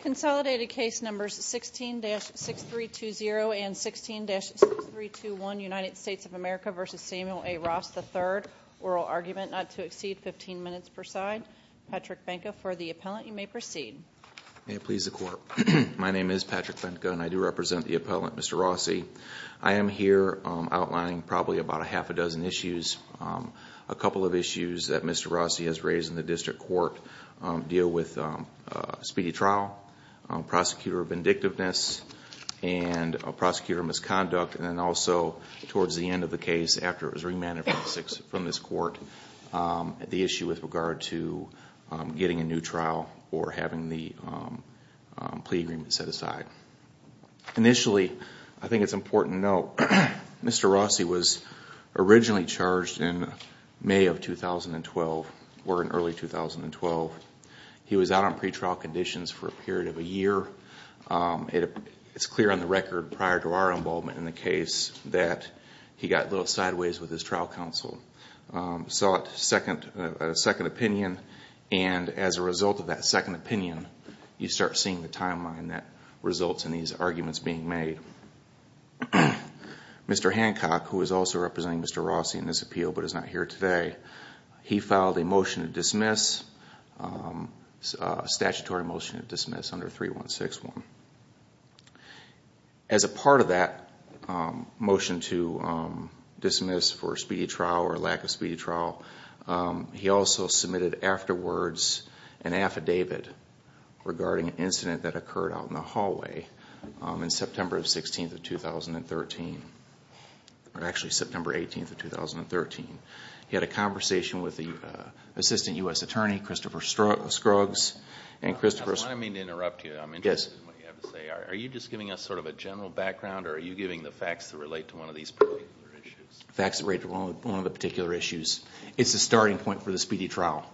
Consolidated case numbers 16-6320 and 16-6321, United States of America v. Samuel A Rosse III. Oral argument not to exceed 15 minutes per side. Patrick Benko for the appellant. You may proceed. May it please the Court. My name is Patrick Benko and I do represent the appellant, Mr. Rosse. I am here outlining probably about a half a dozen issues. A couple of issues that Mr. Rosse has raised in the district court deal with speedy trial, prosecutor of vindictiveness, and prosecutor of misconduct. And then also, towards the end of the case, after it was remanded from this court, the issue with regard to getting a new trial or having the plea agreement set aside. Initially, I think it's important to note, Mr. Rosse was originally charged in May of 2012 or in early 2012. He was out on pretrial conditions for a period of a year. It's clear on the record prior to our involvement in the case that he got a little sideways with his trial counsel. He sought a second opinion and as a result of that second opinion, you start seeing the timeline that results in these arguments being made. Mr. Hancock, who is also representing Mr. Rosse in this appeal but is not here today, he filed a motion to dismiss, a statutory motion to dismiss under 3161. As a part of that motion to dismiss for speedy trial or lack of speedy trial, he also submitted afterwards an affidavit regarding an incident that occurred out in the hallway in September 16th of 2013. Actually, September 18th of 2013. He had a conversation with the assistant U.S. attorney, Christopher Scruggs. I mean to interrupt you. I'm interested in what you have to say. Are you just giving us sort of a general background or are you giving the facts that relate to one of these particular issues? Facts that relate to one of the particular issues. It's a starting point for the speedy trial.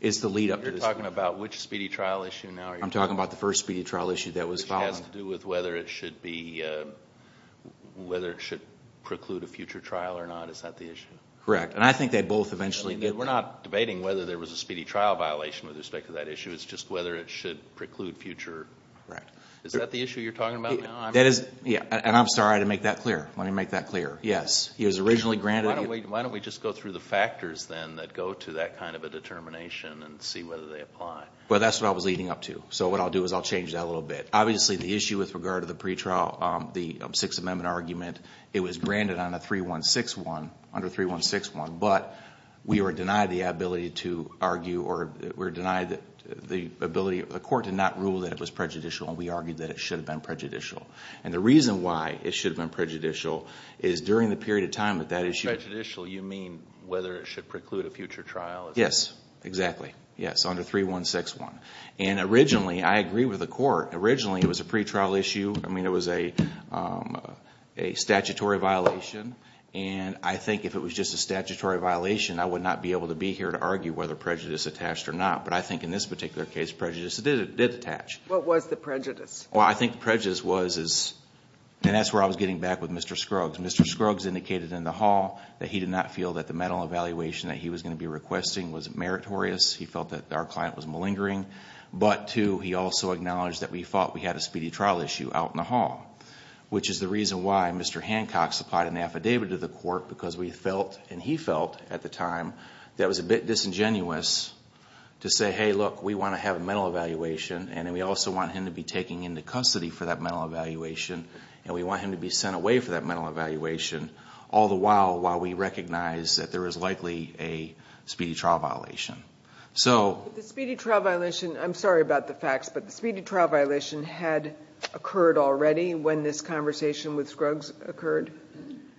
It's the lead up to the speedy trial. You're talking about which speedy trial issue now? I'm talking about the first speedy trial issue that was filed. Which has to do with whether it should preclude a future trial or not. Is that the issue? Correct. And I think they both eventually... We're not debating whether there was a speedy trial violation with respect to that issue. It's just whether it should preclude future... Correct. Is that the issue you're talking about now? That is... And I'm sorry to make that clear. Let me make that clear. Yes. He was originally granted... Why don't we just go through the factors then that go to that kind of a determination and see whether they apply. Well, that's what I was leading up to. So what I'll do is I'll change that a little bit. Obviously, the issue with regard to the pretrial, the Sixth Amendment argument, it was granted on a 3161, under 3161. But we were denied the ability to argue or we were denied the ability... The court did not rule that it was prejudicial. And we argued that it should have been prejudicial. And the reason why it should have been prejudicial is during the period of time that that issue... By prejudicial, you mean whether it should preclude a future trial? Yes. Exactly. Yes. Under 3161. And originally, I agree with the court. Originally, it was a pretrial issue. I mean, it was a statutory violation. And I think if it was just a statutory violation, I would not be able to be here to argue whether prejudice attached or not. But I think in this particular case, prejudice did attach. What was the prejudice? Well, I think prejudice was... And that's where I was getting back with Mr. Scruggs. Mr. Scruggs indicated in the hall that he did not feel that the mental evaluation that he was going to be requesting was meritorious. He felt that our client was malingering. But, too, he also acknowledged that we felt we had a speedy trial issue out in the hall. Which is the reason why Mr. Hancock supplied an affidavit to the court. Because we felt, and he felt at the time, that it was a bit disingenuous to say, Hey, look, we want to have a mental evaluation. And we also want him to be taken into custody for that mental evaluation. And we want him to be sent away for that mental evaluation. All the while, while we recognize that there is likely a speedy trial violation. So... The speedy trial violation, I'm sorry about the facts, but the speedy trial violation had occurred already when this conversation with Scruggs occurred?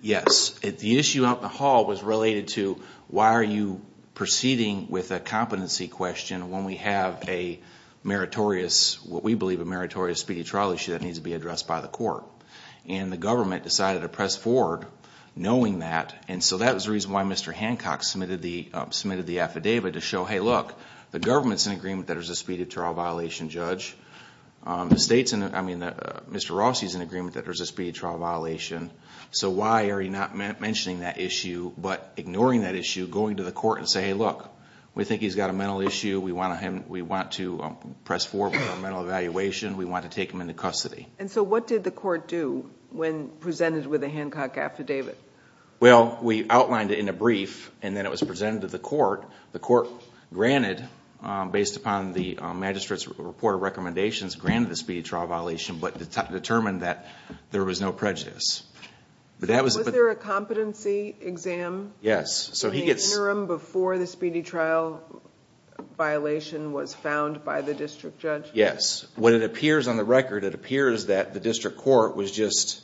Yes. The issue out in the hall was related to, Why are you proceeding with a competency question when we have a meritorious, what we believe a meritorious speedy trial issue that needs to be addressed by the court? And the government decided to press forward knowing that. And so that was the reason why Mr. Hancock submitted the affidavit to show, Hey, look, the government's in agreement that there's a speedy trial violation, Judge. The state's in, I mean, Mr. Rossi's in agreement that there's a speedy trial violation. So why are you not mentioning that issue, but ignoring that issue, going to the court and saying, Hey, look, we think he's got a mental issue. We want to press forward with a mental evaluation. We want to take him into custody. And so what did the court do when presented with a Hancock affidavit? Well, we outlined it in a brief. And then it was presented to the court. The court granted, based upon the magistrate's report of recommendations, granted the speedy trial violation, but determined that there was no prejudice. Was there a competency exam in the interim before the speedy trial violation was found by the district judge? Yes. What it appears on the record, it appears that the district court was just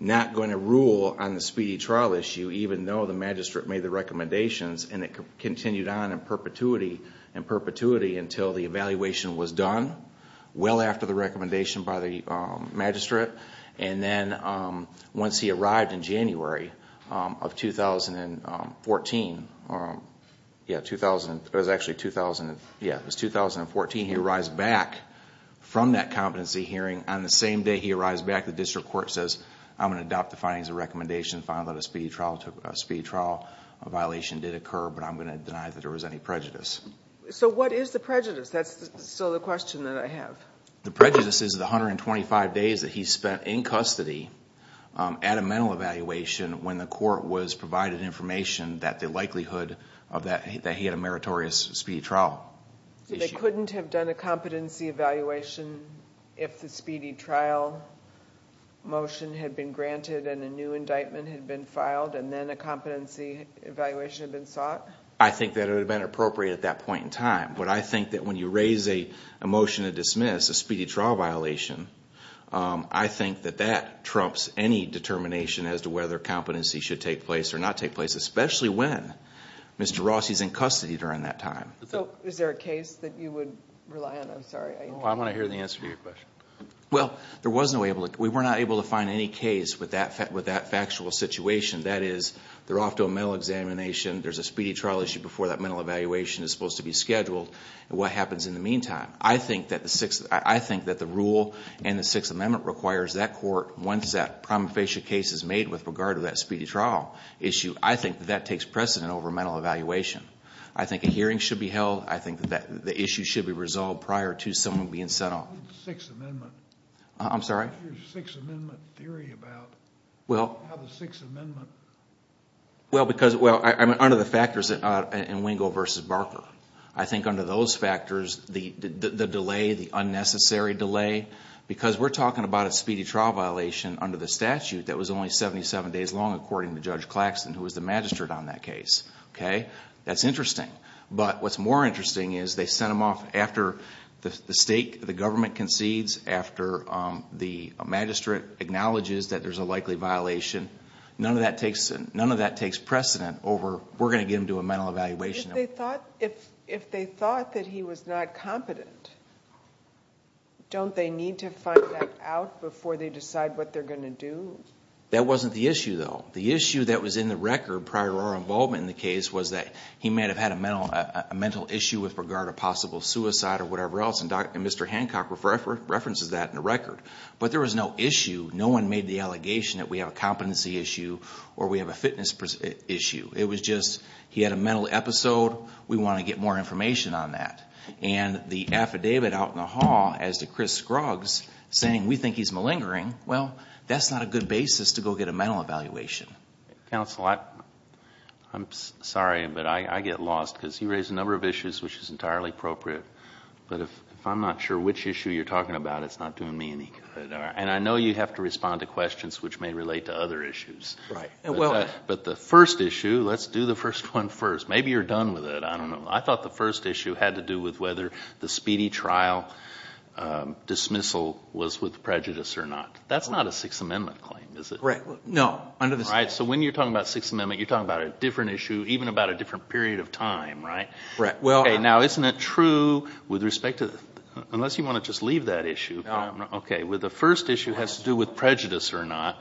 not going to rule on the speedy trial issue, even though the magistrate made the recommendations. And it continued on in perpetuity and perpetuity until the evaluation was done, well after the recommendation by the magistrate. And then once he arrived in January of 2014, yeah, it was actually 2014, he arrives back from that competency hearing. On the same day he arrives back, the district court says, I'm going to adopt the findings of the recommendation, find that a speedy trial violation did occur, but I'm going to deny that there was any prejudice. So what is the prejudice? That's still the question that I have. The prejudice is the 125 days that he spent in custody at a mental evaluation when the court was provided information that the likelihood that he had a meritorious speedy trial issue. So they couldn't have done a competency evaluation if the speedy trial motion had been granted and a new indictment had been filed and then a competency evaluation had been sought? I think that it would have been appropriate at that point in time. But I think that when you raise a motion to dismiss a speedy trial violation, I think that that trumps any determination as to whether competency should take place or not take place, especially when Mr. Rossi is in custody during that time. So is there a case that you would rely on? I'm sorry. I'm going to hear the answer to your question. Well, we were not able to find any case with that factual situation. That is, they're off to a mental examination. There's a speedy trial issue before that mental evaluation is supposed to be scheduled. What happens in the meantime? I think that the rule in the Sixth Amendment requires that court, once that prima facie case is made with regard to that speedy trial issue, I think that that takes precedent over mental evaluation. I think a hearing should be held. I think that the issue should be resolved prior to someone being sent off. Sixth Amendment. I'm sorry? Your Sixth Amendment theory about how the Sixth Amendment... Well, under the factors in Wingo v. Barker. I think under those factors, the delay, the unnecessary delay, because we're talking about a speedy trial violation under the statute that was only 77 days long, according to Judge Claxton, who was the magistrate on that case. Okay? That's interesting. But what's more interesting is they sent him off after the state, the government, concedes, after the magistrate acknowledges that there's a likely violation. None of that takes precedent over we're going to get him to a mental evaluation. If they thought that he was not competent, don't they need to find that out before they decide what they're going to do? That wasn't the issue, though. The issue that was in the record prior to our involvement in the case was that he may have had a mental issue with regard to possible suicide or whatever else, and Mr. Hancock references that in the record. But there was no issue. No one made the allegation that we have a competency issue or we have a fitness issue. It was just he had a mental episode. We want to get more information on that. And the affidavit out in the hall as to Chris Scruggs saying we think he's malingering, well, that's not a good basis to go get a mental evaluation. Counsel, I'm sorry, but I get lost because you raise a number of issues which is entirely appropriate. But if I'm not sure which issue you're talking about, it's not doing me any good. And I know you have to respond to questions which may relate to other issues. Right. But the first issue, let's do the first one first. Maybe you're done with it. I don't know. I thought the first issue had to do with whether the speedy trial dismissal was with prejudice or not. That's not a Sixth Amendment claim, is it? Right. No. So when you're talking about Sixth Amendment, you're talking about a different issue, even about a different period of time, right? Right. Now, isn't it true with respect to, unless you want to just leave that issue. Okay. The first issue has to do with prejudice or not.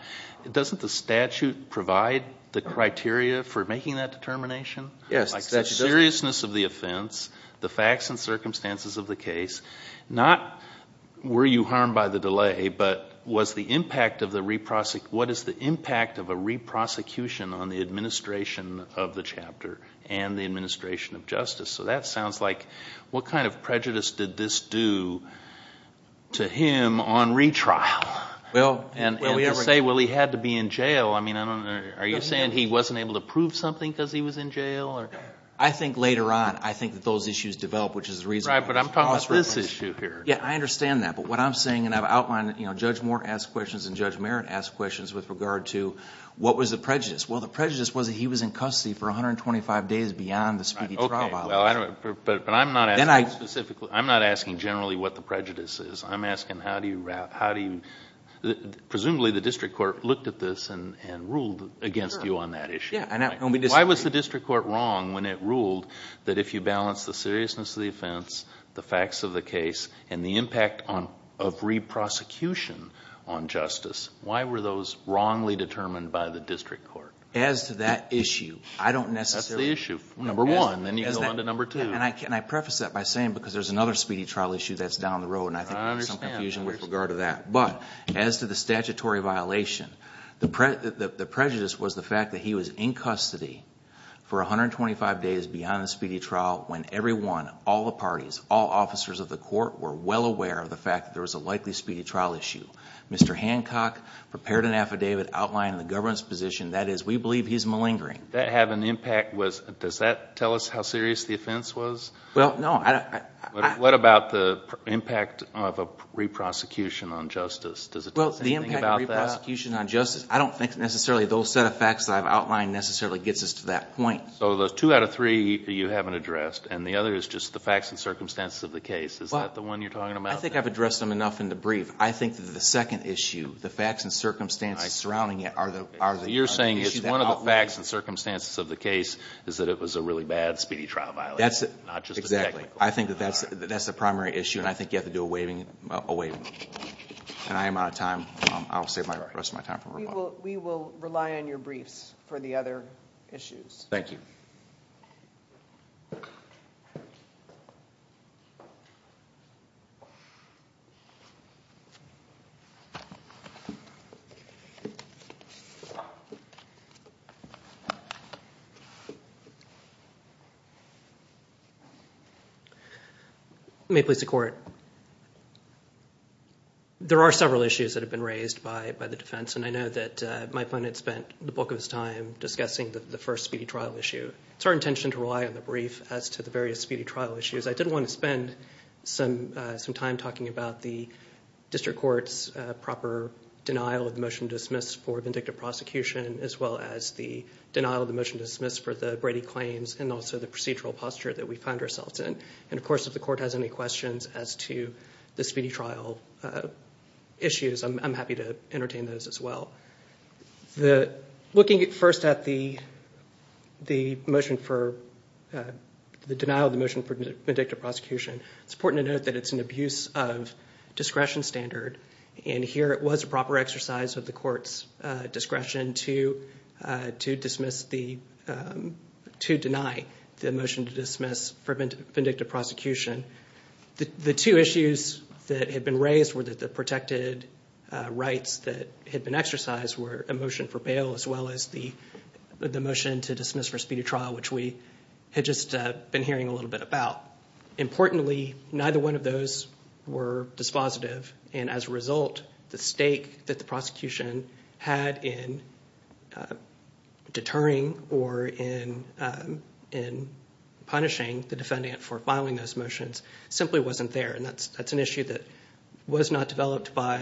Doesn't the statute provide the criteria for making that determination? Yes, the statute does. Like the seriousness of the offense, the facts and circumstances of the case, not were you harmed by the delay, but what is the impact of a re-prosecution on the administration of the chapter and the administration of justice? So that sounds like what kind of prejudice did this do to him on retrial? And to say, well, he had to be in jail. I mean, are you saying he wasn't able to prove something because he was in jail? I think later on, I think that those issues develop, which is the reason. Right, but I'm talking about this issue here. Yeah, I understand that. But what I'm saying, and I've outlined it, Judge Moore asked questions and Judge Merritt asked questions with regard to what was the prejudice. Well, the prejudice was that he was in custody for 125 days beyond the speedy trial violation. Okay. But I'm not asking specifically, I'm not asking generally what the prejudice is. I'm asking how do you, presumably the district court looked at this and ruled against you on that issue. Why was the district court wrong when it ruled that if you balance the seriousness of the offense, the facts of the case, and the impact of re-prosecution on justice, why were those wrongly determined by the district court? As to that issue, I don't necessarily. That's the issue, number one. Then you go on to number two. And I preface that by saying because there's another speedy trial issue that's down the road, and I think there's some confusion with regard to that. But as to the statutory violation, the prejudice was the fact that he was in custody for 125 days beyond the speedy trial when everyone, all the parties, all officers of the court were well aware of the fact that there was a likely speedy trial issue. Mr. Hancock prepared an affidavit outlining the government's position, that is, we believe he's malingering. That had an impact. Does that tell us how serious the offense was? Well, no. What about the impact of a re-prosecution on justice? Well, the impact of a re-prosecution on justice, I don't think necessarily those set of facts that I've outlined necessarily gets us to that point. So the two out of three you haven't addressed, and the other is just the facts and circumstances of the case. Is that the one you're talking about? I think I've addressed them enough in the brief. I think that the second issue, the facts and circumstances surrounding it are the issues that outweigh. You're saying it's one of the facts and circumstances of the case is that it was a really bad speedy trial violation, not just the technical. Exactly. I think that that's the primary issue, and I think you have to do a waiving. And I am out of time. I'll save the rest of my time for rebuttal. We will rely on your briefs for the other issues. Thank you. Thank you. May it please the Court. There are several issues that have been raised by the defense, and I know that my opponent spent the bulk of his time discussing the first speedy trial issue. It's our intention to rely on the brief as to the various speedy trial issues. I did want to spend some time talking about the district court's proper denial of the motion to dismiss for vindictive prosecution, as well as the denial of the motion to dismiss for the Brady claims and also the procedural posture that we find ourselves in. And, of course, if the court has any questions as to the speedy trial issues, I'm happy to entertain those as well. Looking first at the motion for the denial of the motion for vindictive prosecution, it's important to note that it's an abuse of discretion standard, and here it was a proper exercise of the court's discretion to deny the motion to dismiss for vindictive prosecution. The two issues that had been raised were that the protected rights that had been exercised were a motion for bail, as well as the motion to dismiss for speedy trial, which we had just been hearing a little bit about. Importantly, neither one of those were dispositive, and as a result, the stake that the prosecution had in deterring or in punishing the defendant for filing those motions simply wasn't there, and that's an issue that was not developed by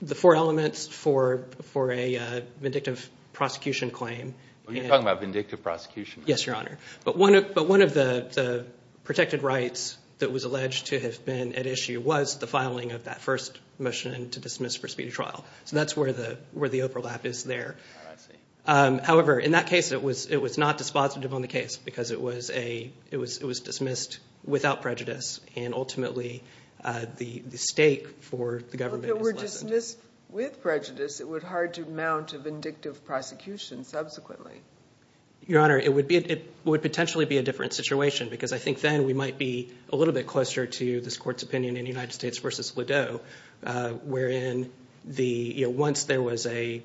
the four elements for a vindictive prosecution claim. You're talking about vindictive prosecution. Yes, Your Honor. But one of the protected rights that was alleged to have been at issue was the filing of that first motion to dismiss for speedy trial. So that's where the overlap is there. However, in that case, it was not dispositive on the case because it was dismissed without prejudice, and ultimately the stake for the government was lessened. If it were dismissed with prejudice, it would hard to mount a vindictive prosecution subsequently. Your Honor, it would potentially be a different situation, because I think then we might be a little bit closer to this Court's opinion in United States v. Lideau, wherein once there was a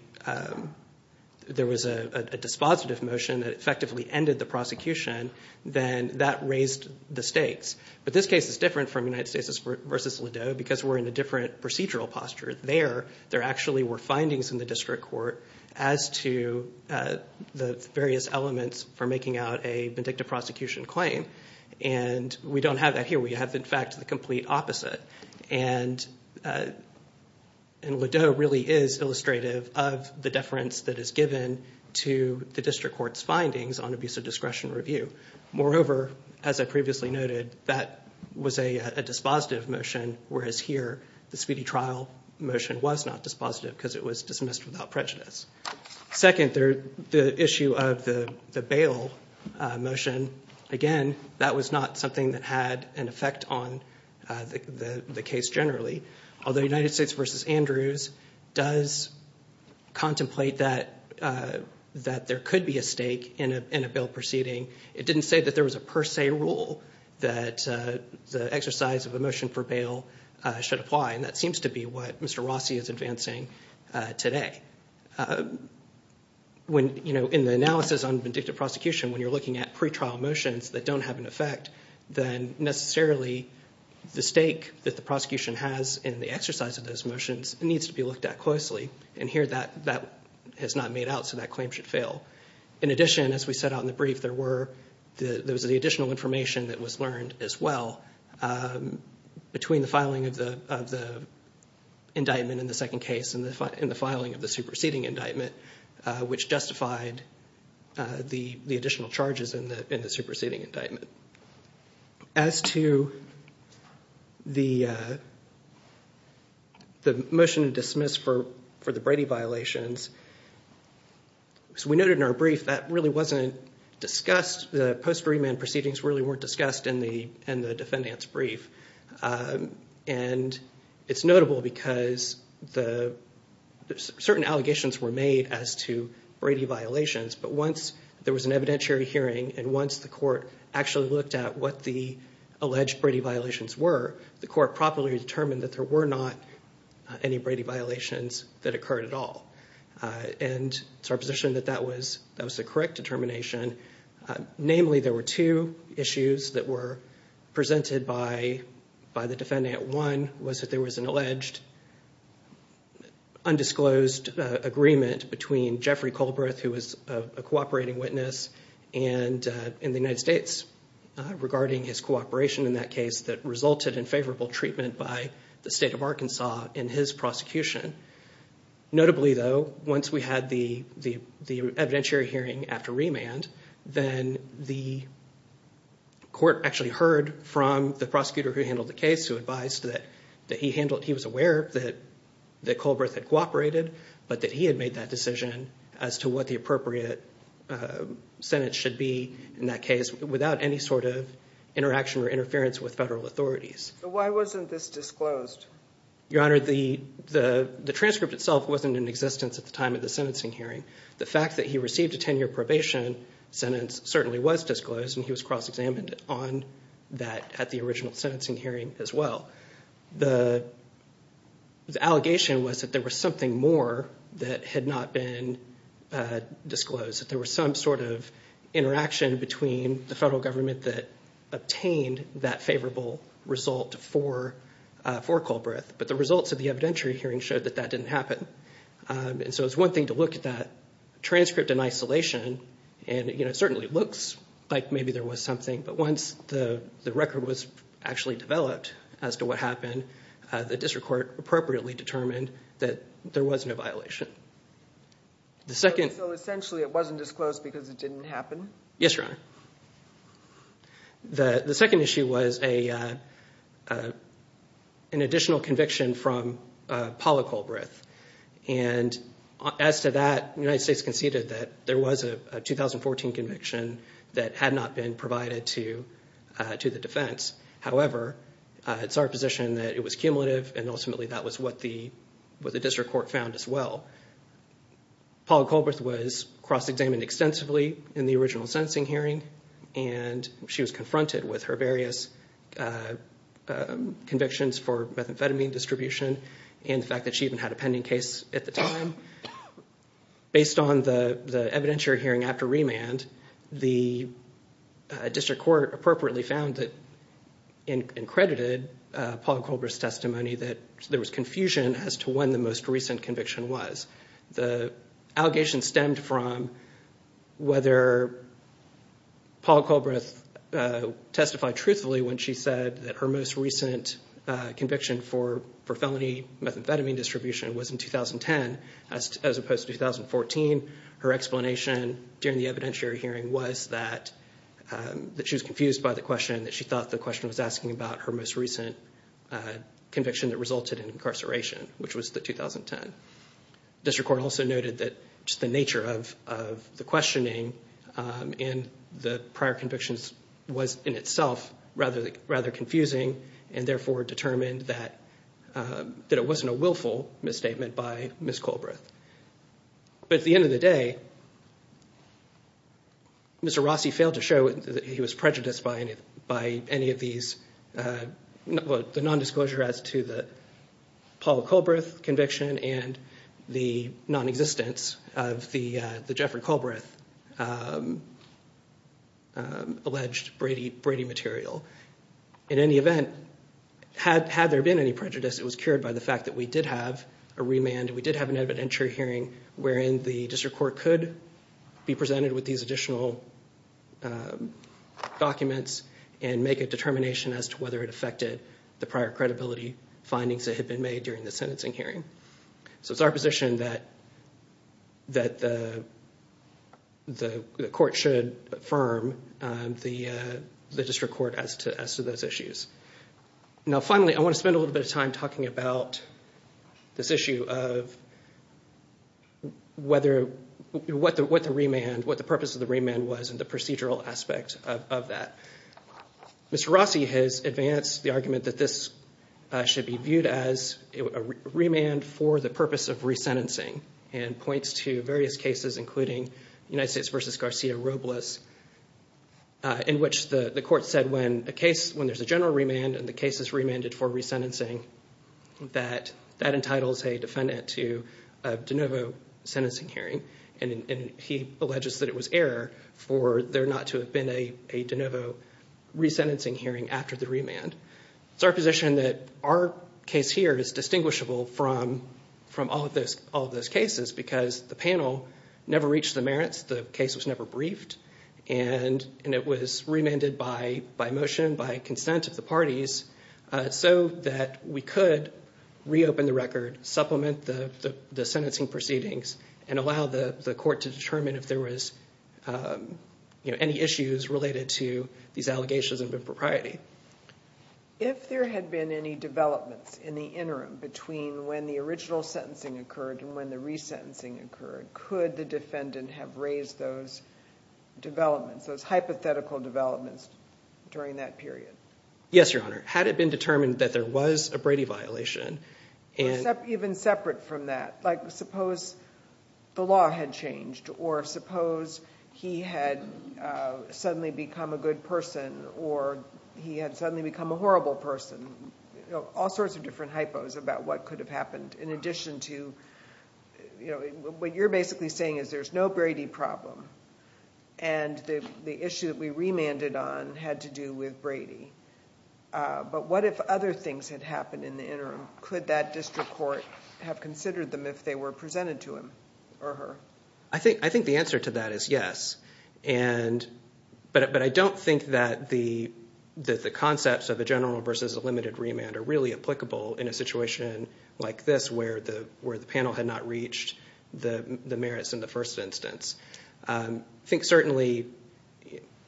dispositive motion that effectively ended the prosecution, then that raised the stakes. But this case is different from United States v. Lideau because we're in a different procedural posture. There, there actually were findings in the district court as to the various elements for making out a vindictive prosecution claim. And we don't have that here. We have, in fact, the complete opposite. And Lideau really is illustrative of the deference that is given to the district court's findings on abuse of discretion review. Moreover, as I previously noted, that was a dispositive motion, whereas here the speedy trial motion was not dispositive because it was dismissed without prejudice. Second, the issue of the bail motion, again, that was not something that had an effect on the case generally. Although United States v. Andrews does contemplate that there could be a stake in a bail proceeding, it didn't say that there was a per se rule that the exercise of a motion for bail should apply. And that seems to be what Mr. Rossi is advancing today. When, you know, in the analysis on vindictive prosecution, when you're looking at pretrial motions that don't have an effect, then necessarily the stake that the prosecution has in the exercise of those motions needs to be looked at closely. And here that has not made out, so that claim should fail. In addition, as we set out in the brief, there was the additional information that was learned as well between the filing of the indictment in the second case and the filing of the superseding indictment, which justified the additional charges in the superseding indictment. As to the motion to dismiss for the Brady violations, as we noted in our brief, that really wasn't discussed. The post-free man proceedings really weren't discussed in the defendant's brief. And it's notable because certain allegations were made as to Brady violations, but once there was an evidentiary hearing and once the court actually looked at what the alleged Brady violations were, the court properly determined that there were not any Brady violations that occurred at all. And it's our position that that was the correct determination. Namely, there were two issues that were presented by the defendant. One was that there was an alleged undisclosed agreement between Jeffrey Colberth, who was a cooperating witness, and the United States regarding his cooperation in that case that resulted in favorable treatment by the state of Arkansas in his prosecution. Notably, though, once we had the evidentiary hearing after remand, then the court actually heard from the prosecutor who handled the case, who advised that he was aware that Colberth had cooperated, but that he had made that decision as to what the appropriate sentence should be in that case without any sort of interaction or interference with federal authorities. Why wasn't this disclosed? Your Honor, the transcript itself wasn't in existence at the time of the sentencing hearing. The fact that he received a 10-year probation sentence certainly was disclosed, and he was cross-examined on that at the original sentencing hearing as well. The allegation was that there was something more that had not been disclosed, that there was some sort of interaction between the federal government that obtained that favorable result for Colberth. But the results of the evidentiary hearing showed that that didn't happen. So it's one thing to look at that transcript in isolation, and it certainly looks like maybe there was something, but once the record was actually developed as to what happened, the district court appropriately determined that there was no violation. So essentially it wasn't disclosed because it didn't happen? Yes, Your Honor. The second issue was an additional conviction from Paula Colberth. And as to that, the United States conceded that there was a 2014 conviction that had not been provided to the defense. However, it's our position that it was cumulative, and ultimately that was what the district court found as well. Paula Colberth was cross-examined extensively in the original sentencing hearing, and she was confronted with her various convictions for methamphetamine distribution and the fact that she even had a pending case at the time. Based on the evidentiary hearing after remand, the district court appropriately found and credited Paula Colberth's testimony that there was confusion as to when the most recent conviction was. The allegation stemmed from whether Paula Colberth testified truthfully when she said that her most recent conviction for felony methamphetamine distribution was in 2010, as opposed to 2014. Her explanation during the evidentiary hearing was that she was confused by the question, that she thought the question was asking about her most recent conviction that resulted in incarceration, which was the 2010. The district court also noted that the nature of the questioning in the prior convictions was in itself rather confusing and therefore determined that it wasn't a willful misstatement by Ms. Colberth. But at the end of the day, Mr. Rossi failed to show that he was prejudiced by any of these, the nondisclosure as to the Paula Colberth conviction and the nonexistence of the Jeffrey Colberth alleged Brady material. In any event, had there been any prejudice, it was cured by the fact that we did have a remand, we did have an evidentiary hearing wherein the district court could be presented with these additional documents and make a determination as to whether it affected the prior credibility findings that had been made during the sentencing hearing. So it's our position that the court should affirm the district court as to those issues. Now, finally, I want to spend a little bit of time talking about this issue of what the purpose of the remand was and the procedural aspect of that. Mr. Rossi has advanced the argument that this should be viewed as a remand for the purpose of resentencing and points to various cases, including United States v. Garcia Robles, in which the court said when there's a general remand and the case is remanded for resentencing, that that entitles a defendant to a de novo sentencing hearing, and he alleges that it was error for there not to have been a de novo resentencing hearing after the remand. It's our position that our case here is distinguishable from all of those cases because the panel never reached the merits, the case was never briefed, and it was remanded by motion, by consent of the parties, so that we could reopen the record, supplement the sentencing proceedings, and allow the court to determine if there was any issues related to these allegations of impropriety. If there had been any developments in the interim between when the original sentencing occurred and when the resentencing occurred, could the defendant have raised those developments, those hypothetical developments, during that period? Yes, Your Honor. Had it been determined that there was a Brady violation, and— Even separate from that, like suppose the law had changed, or suppose he had suddenly become a good person, or he had suddenly become a horrible person, all sorts of different hypos about what could have happened, in addition to what you're basically saying is there's no Brady problem, and the issue that we remanded on had to do with Brady. But what if other things had happened in the interim? Could that district court have considered them if they were presented to him or her? I think the answer to that is yes, but I don't think that the concepts of a general versus a limited remand are really applicable in a situation like this where the panel had not reached the merits in the first instance. I think certainly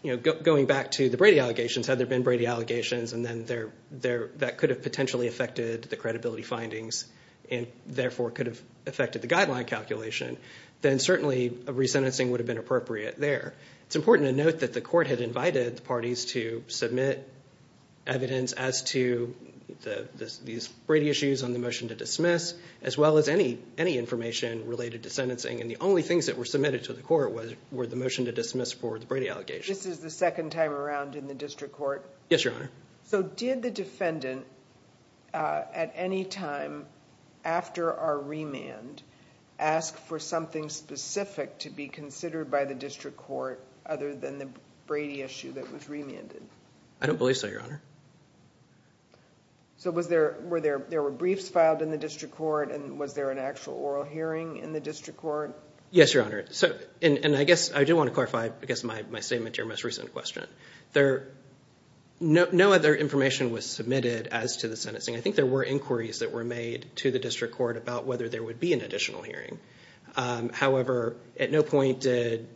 going back to the Brady allegations, had there been Brady allegations, and then that could have potentially affected the credibility findings, and therefore could have affected the guideline calculation, then certainly a resentencing would have been appropriate there. It's important to note that the court had invited the parties to submit evidence as to these Brady issues on the motion to dismiss, as well as any information related to sentencing, and the only things that were submitted to the court were the motion to dismiss for the Brady allegations. This is the second time around in the district court? Yes, Your Honor. So did the defendant at any time after our remand ask for something specific to be considered by the district court other than the Brady issue that was remanded? I don't believe so, Your Honor. So were there briefs filed in the district court, and was there an actual oral hearing in the district court? Yes, Your Honor, and I guess I do want to clarify my statement to your most recent question. No other information was submitted as to the sentencing. I think there were inquiries that were made to the district court about whether there would be an additional hearing. However, at no point did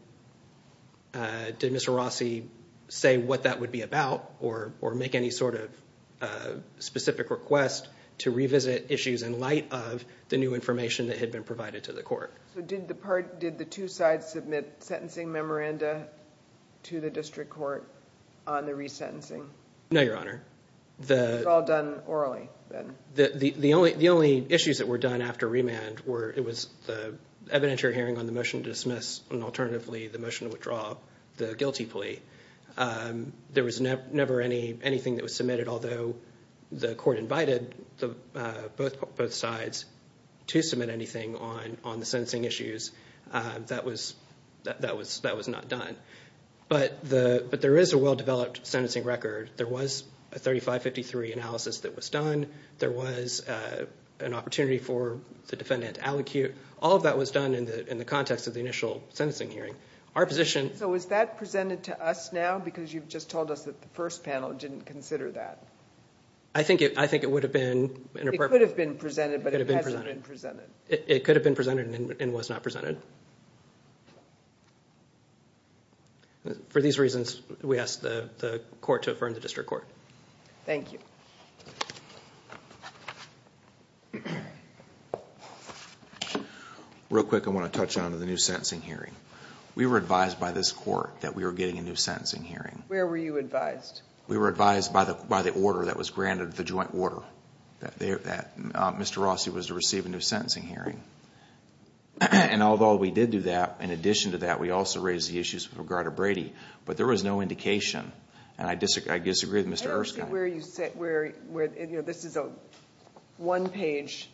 Mr. Rossi say what that would be about or make any sort of specific request to revisit issues in light of the new information that had been provided to the court. So did the two sides submit sentencing memoranda to the district court on the resentencing? No, Your Honor. It was all done orally then? The only issues that were done after remand were the evidentiary hearing on the motion to dismiss and alternatively the motion to withdraw the guilty plea. There was never anything that was submitted, although the court invited both sides to submit anything on the sentencing issues, that was not done. But there is a well-developed sentencing record. There was a 3553 analysis that was done. There was an opportunity for the defendant to allocate. All of that was done in the context of the initial sentencing hearing. So is that presented to us now because you've just told us that the first panel didn't consider that? I think it would have been. It could have been presented, but it hasn't been presented. It could have been presented and was not presented. For these reasons, we ask the court to affirm the district court. Thank you. Thank you. Real quick, I want to touch on the new sentencing hearing. We were advised by this court that we were getting a new sentencing hearing. Where were you advised? We were advised by the order that was granted, the joint order, that Mr. Rossi was to receive a new sentencing hearing. And although we did do that, in addition to that, we also raised the issues with regard to Brady. But there was no indication, and I disagree with Mr. Erskine. This is a one-page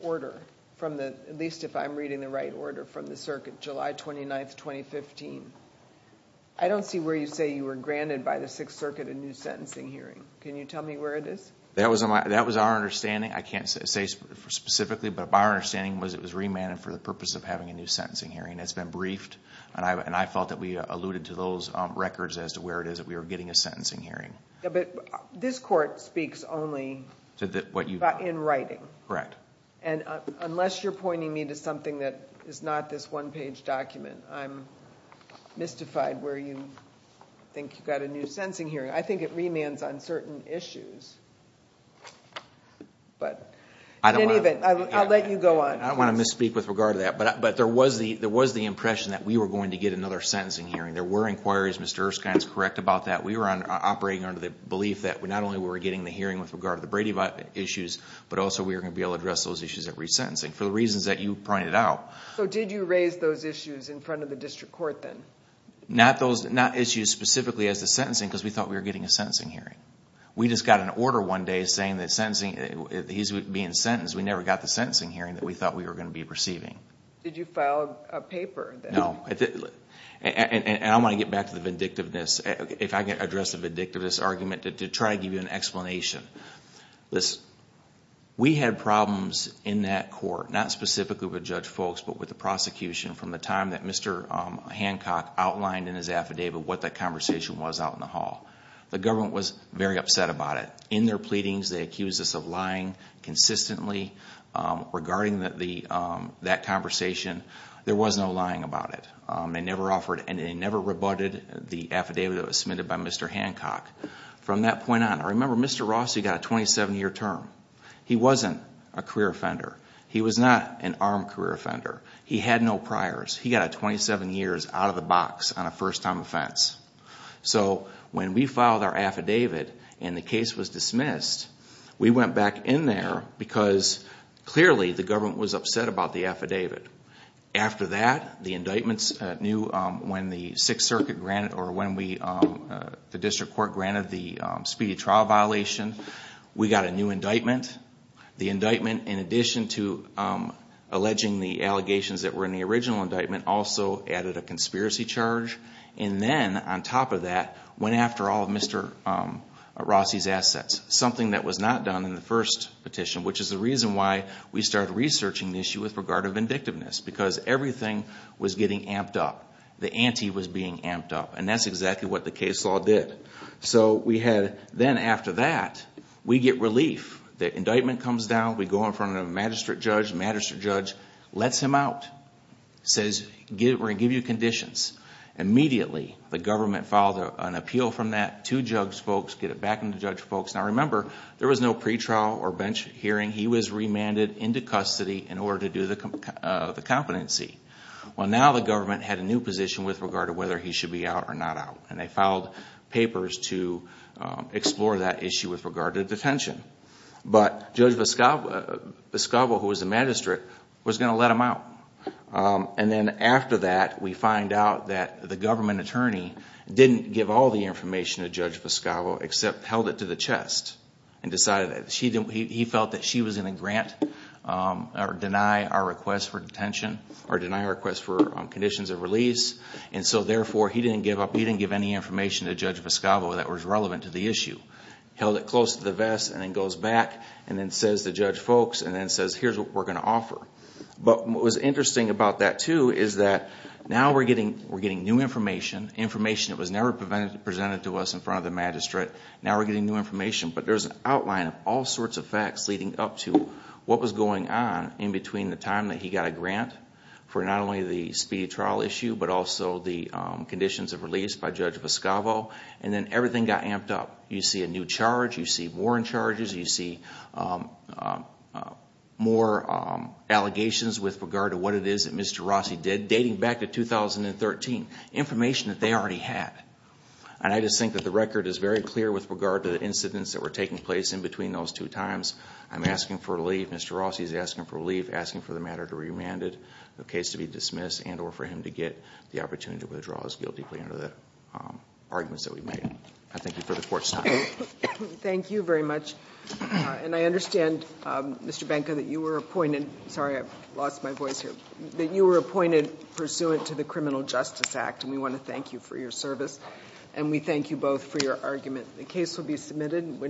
order, at least if I'm reading the right order, from the circuit, July 29, 2015. I don't see where you say you were granted by the Sixth Circuit a new sentencing hearing. Can you tell me where it is? That was our understanding. I can't say specifically, but our understanding was it was remanded for the purpose of having a new sentencing hearing. It's been briefed, and I felt that we alluded to those records as to where it is that we were getting a sentencing hearing. But this court speaks only in writing. Correct. And unless you're pointing me to something that is not this one-page document, I'm mystified where you think you got a new sentencing hearing. I think it remands on certain issues, but in any event, I'll let you go on. I don't want to misspeak with regard to that, but there was the impression that we were going to get another sentencing hearing. There were inquiries. Mr. Erskine is correct about that. We were operating under the belief that not only were we getting the hearing with regard to the Brady violence issues, but also we were going to be able to address those issues at resentencing for the reasons that you pointed out. So did you raise those issues in front of the district court then? Not issues specifically as to sentencing because we thought we were getting a sentencing hearing. We just got an order one day saying that he's being sentenced. We never got the sentencing hearing that we thought we were going to be receiving. Did you file a paper then? No. I want to get back to the vindictiveness. If I can address the vindictiveness argument to try to give you an explanation. We had problems in that court, not specifically with Judge Folks, but with the prosecution from the time that Mr. Hancock outlined in his affidavit what that conversation was out in the hall. The government was very upset about it. In their pleadings, they accused us of lying consistently regarding that conversation. There was no lying about it. They never rebutted the affidavit that was submitted by Mr. Hancock. From that point on, I remember Mr. Rossi got a 27-year term. He wasn't a career offender. He was not an armed career offender. He had no priors. He got 27 years out of the box on a first-time offense. So when we filed our affidavit and the case was dismissed, we went back in there because clearly the government was upset about the affidavit. After that, the indictments knew when the District Court granted the speedy trial violation. We got a new indictment. The indictment, in addition to alleging the allegations that were in the original indictment, also added a conspiracy charge. And then, on top of that, went after all of Mr. Rossi's assets, something that was not done in the first petition, which is the reason why we started researching the issue with regard to vindictiveness, because everything was getting amped up. The ante was being amped up. And that's exactly what the case law did. Then, after that, we get relief. The indictment comes down. We go in front of a magistrate judge. The magistrate judge lets him out, says, we're going to give you conditions. Immediately, the government filed an appeal from that to Judge Folks, get it back to Judge Folks. Now, remember, there was no pretrial or bench hearing. He was remanded into custody in order to do the competency. Well, now the government had a new position with regard to whether he should be out or not out, and they filed papers to explore that issue with regard to detention. But Judge Vescavo, who was the magistrate, was going to let him out. And then, after that, we find out that the government attorney didn't give all the information to Judge Vescavo except held it to the chest and decided that. He felt that she was going to grant or deny our request for detention or deny our request for conditions of release. And so, therefore, he didn't give up. He didn't give any information to Judge Vescavo that was relevant to the issue. Held it close to the vest and then goes back and then says to Judge Folks and then says, here's what we're going to offer. But what was interesting about that, too, is that now we're getting new information, information that was never presented to us in front of the magistrate. Now we're getting new information. But there's an outline of all sorts of facts leading up to what was going on in between the time that he got a grant for not only the speedy trial issue but also the conditions of release by Judge Vescavo. And then everything got amped up. You see a new charge. You see warrant charges. You see more allegations with regard to what it is that Mr. Rossi did dating back to 2013. Information that they already had. And I just think that the record is very clear with regard to the incidents that were taking place in between those two times. I'm asking for relief. Mr. Rossi is asking for relief. Asking for the matter to be remanded, the case to be dismissed, and or for him to get the opportunity to withdraw his guilty plea under the arguments that we made. I thank you for the Court's time. Thank you very much. And I understand, Mr. Benka, that you were appointed. Sorry, I lost my voice here. That you were appointed pursuant to the Criminal Justice Act, and we want to thank you for your service. And we thank you both for your argument. The case will be submitted.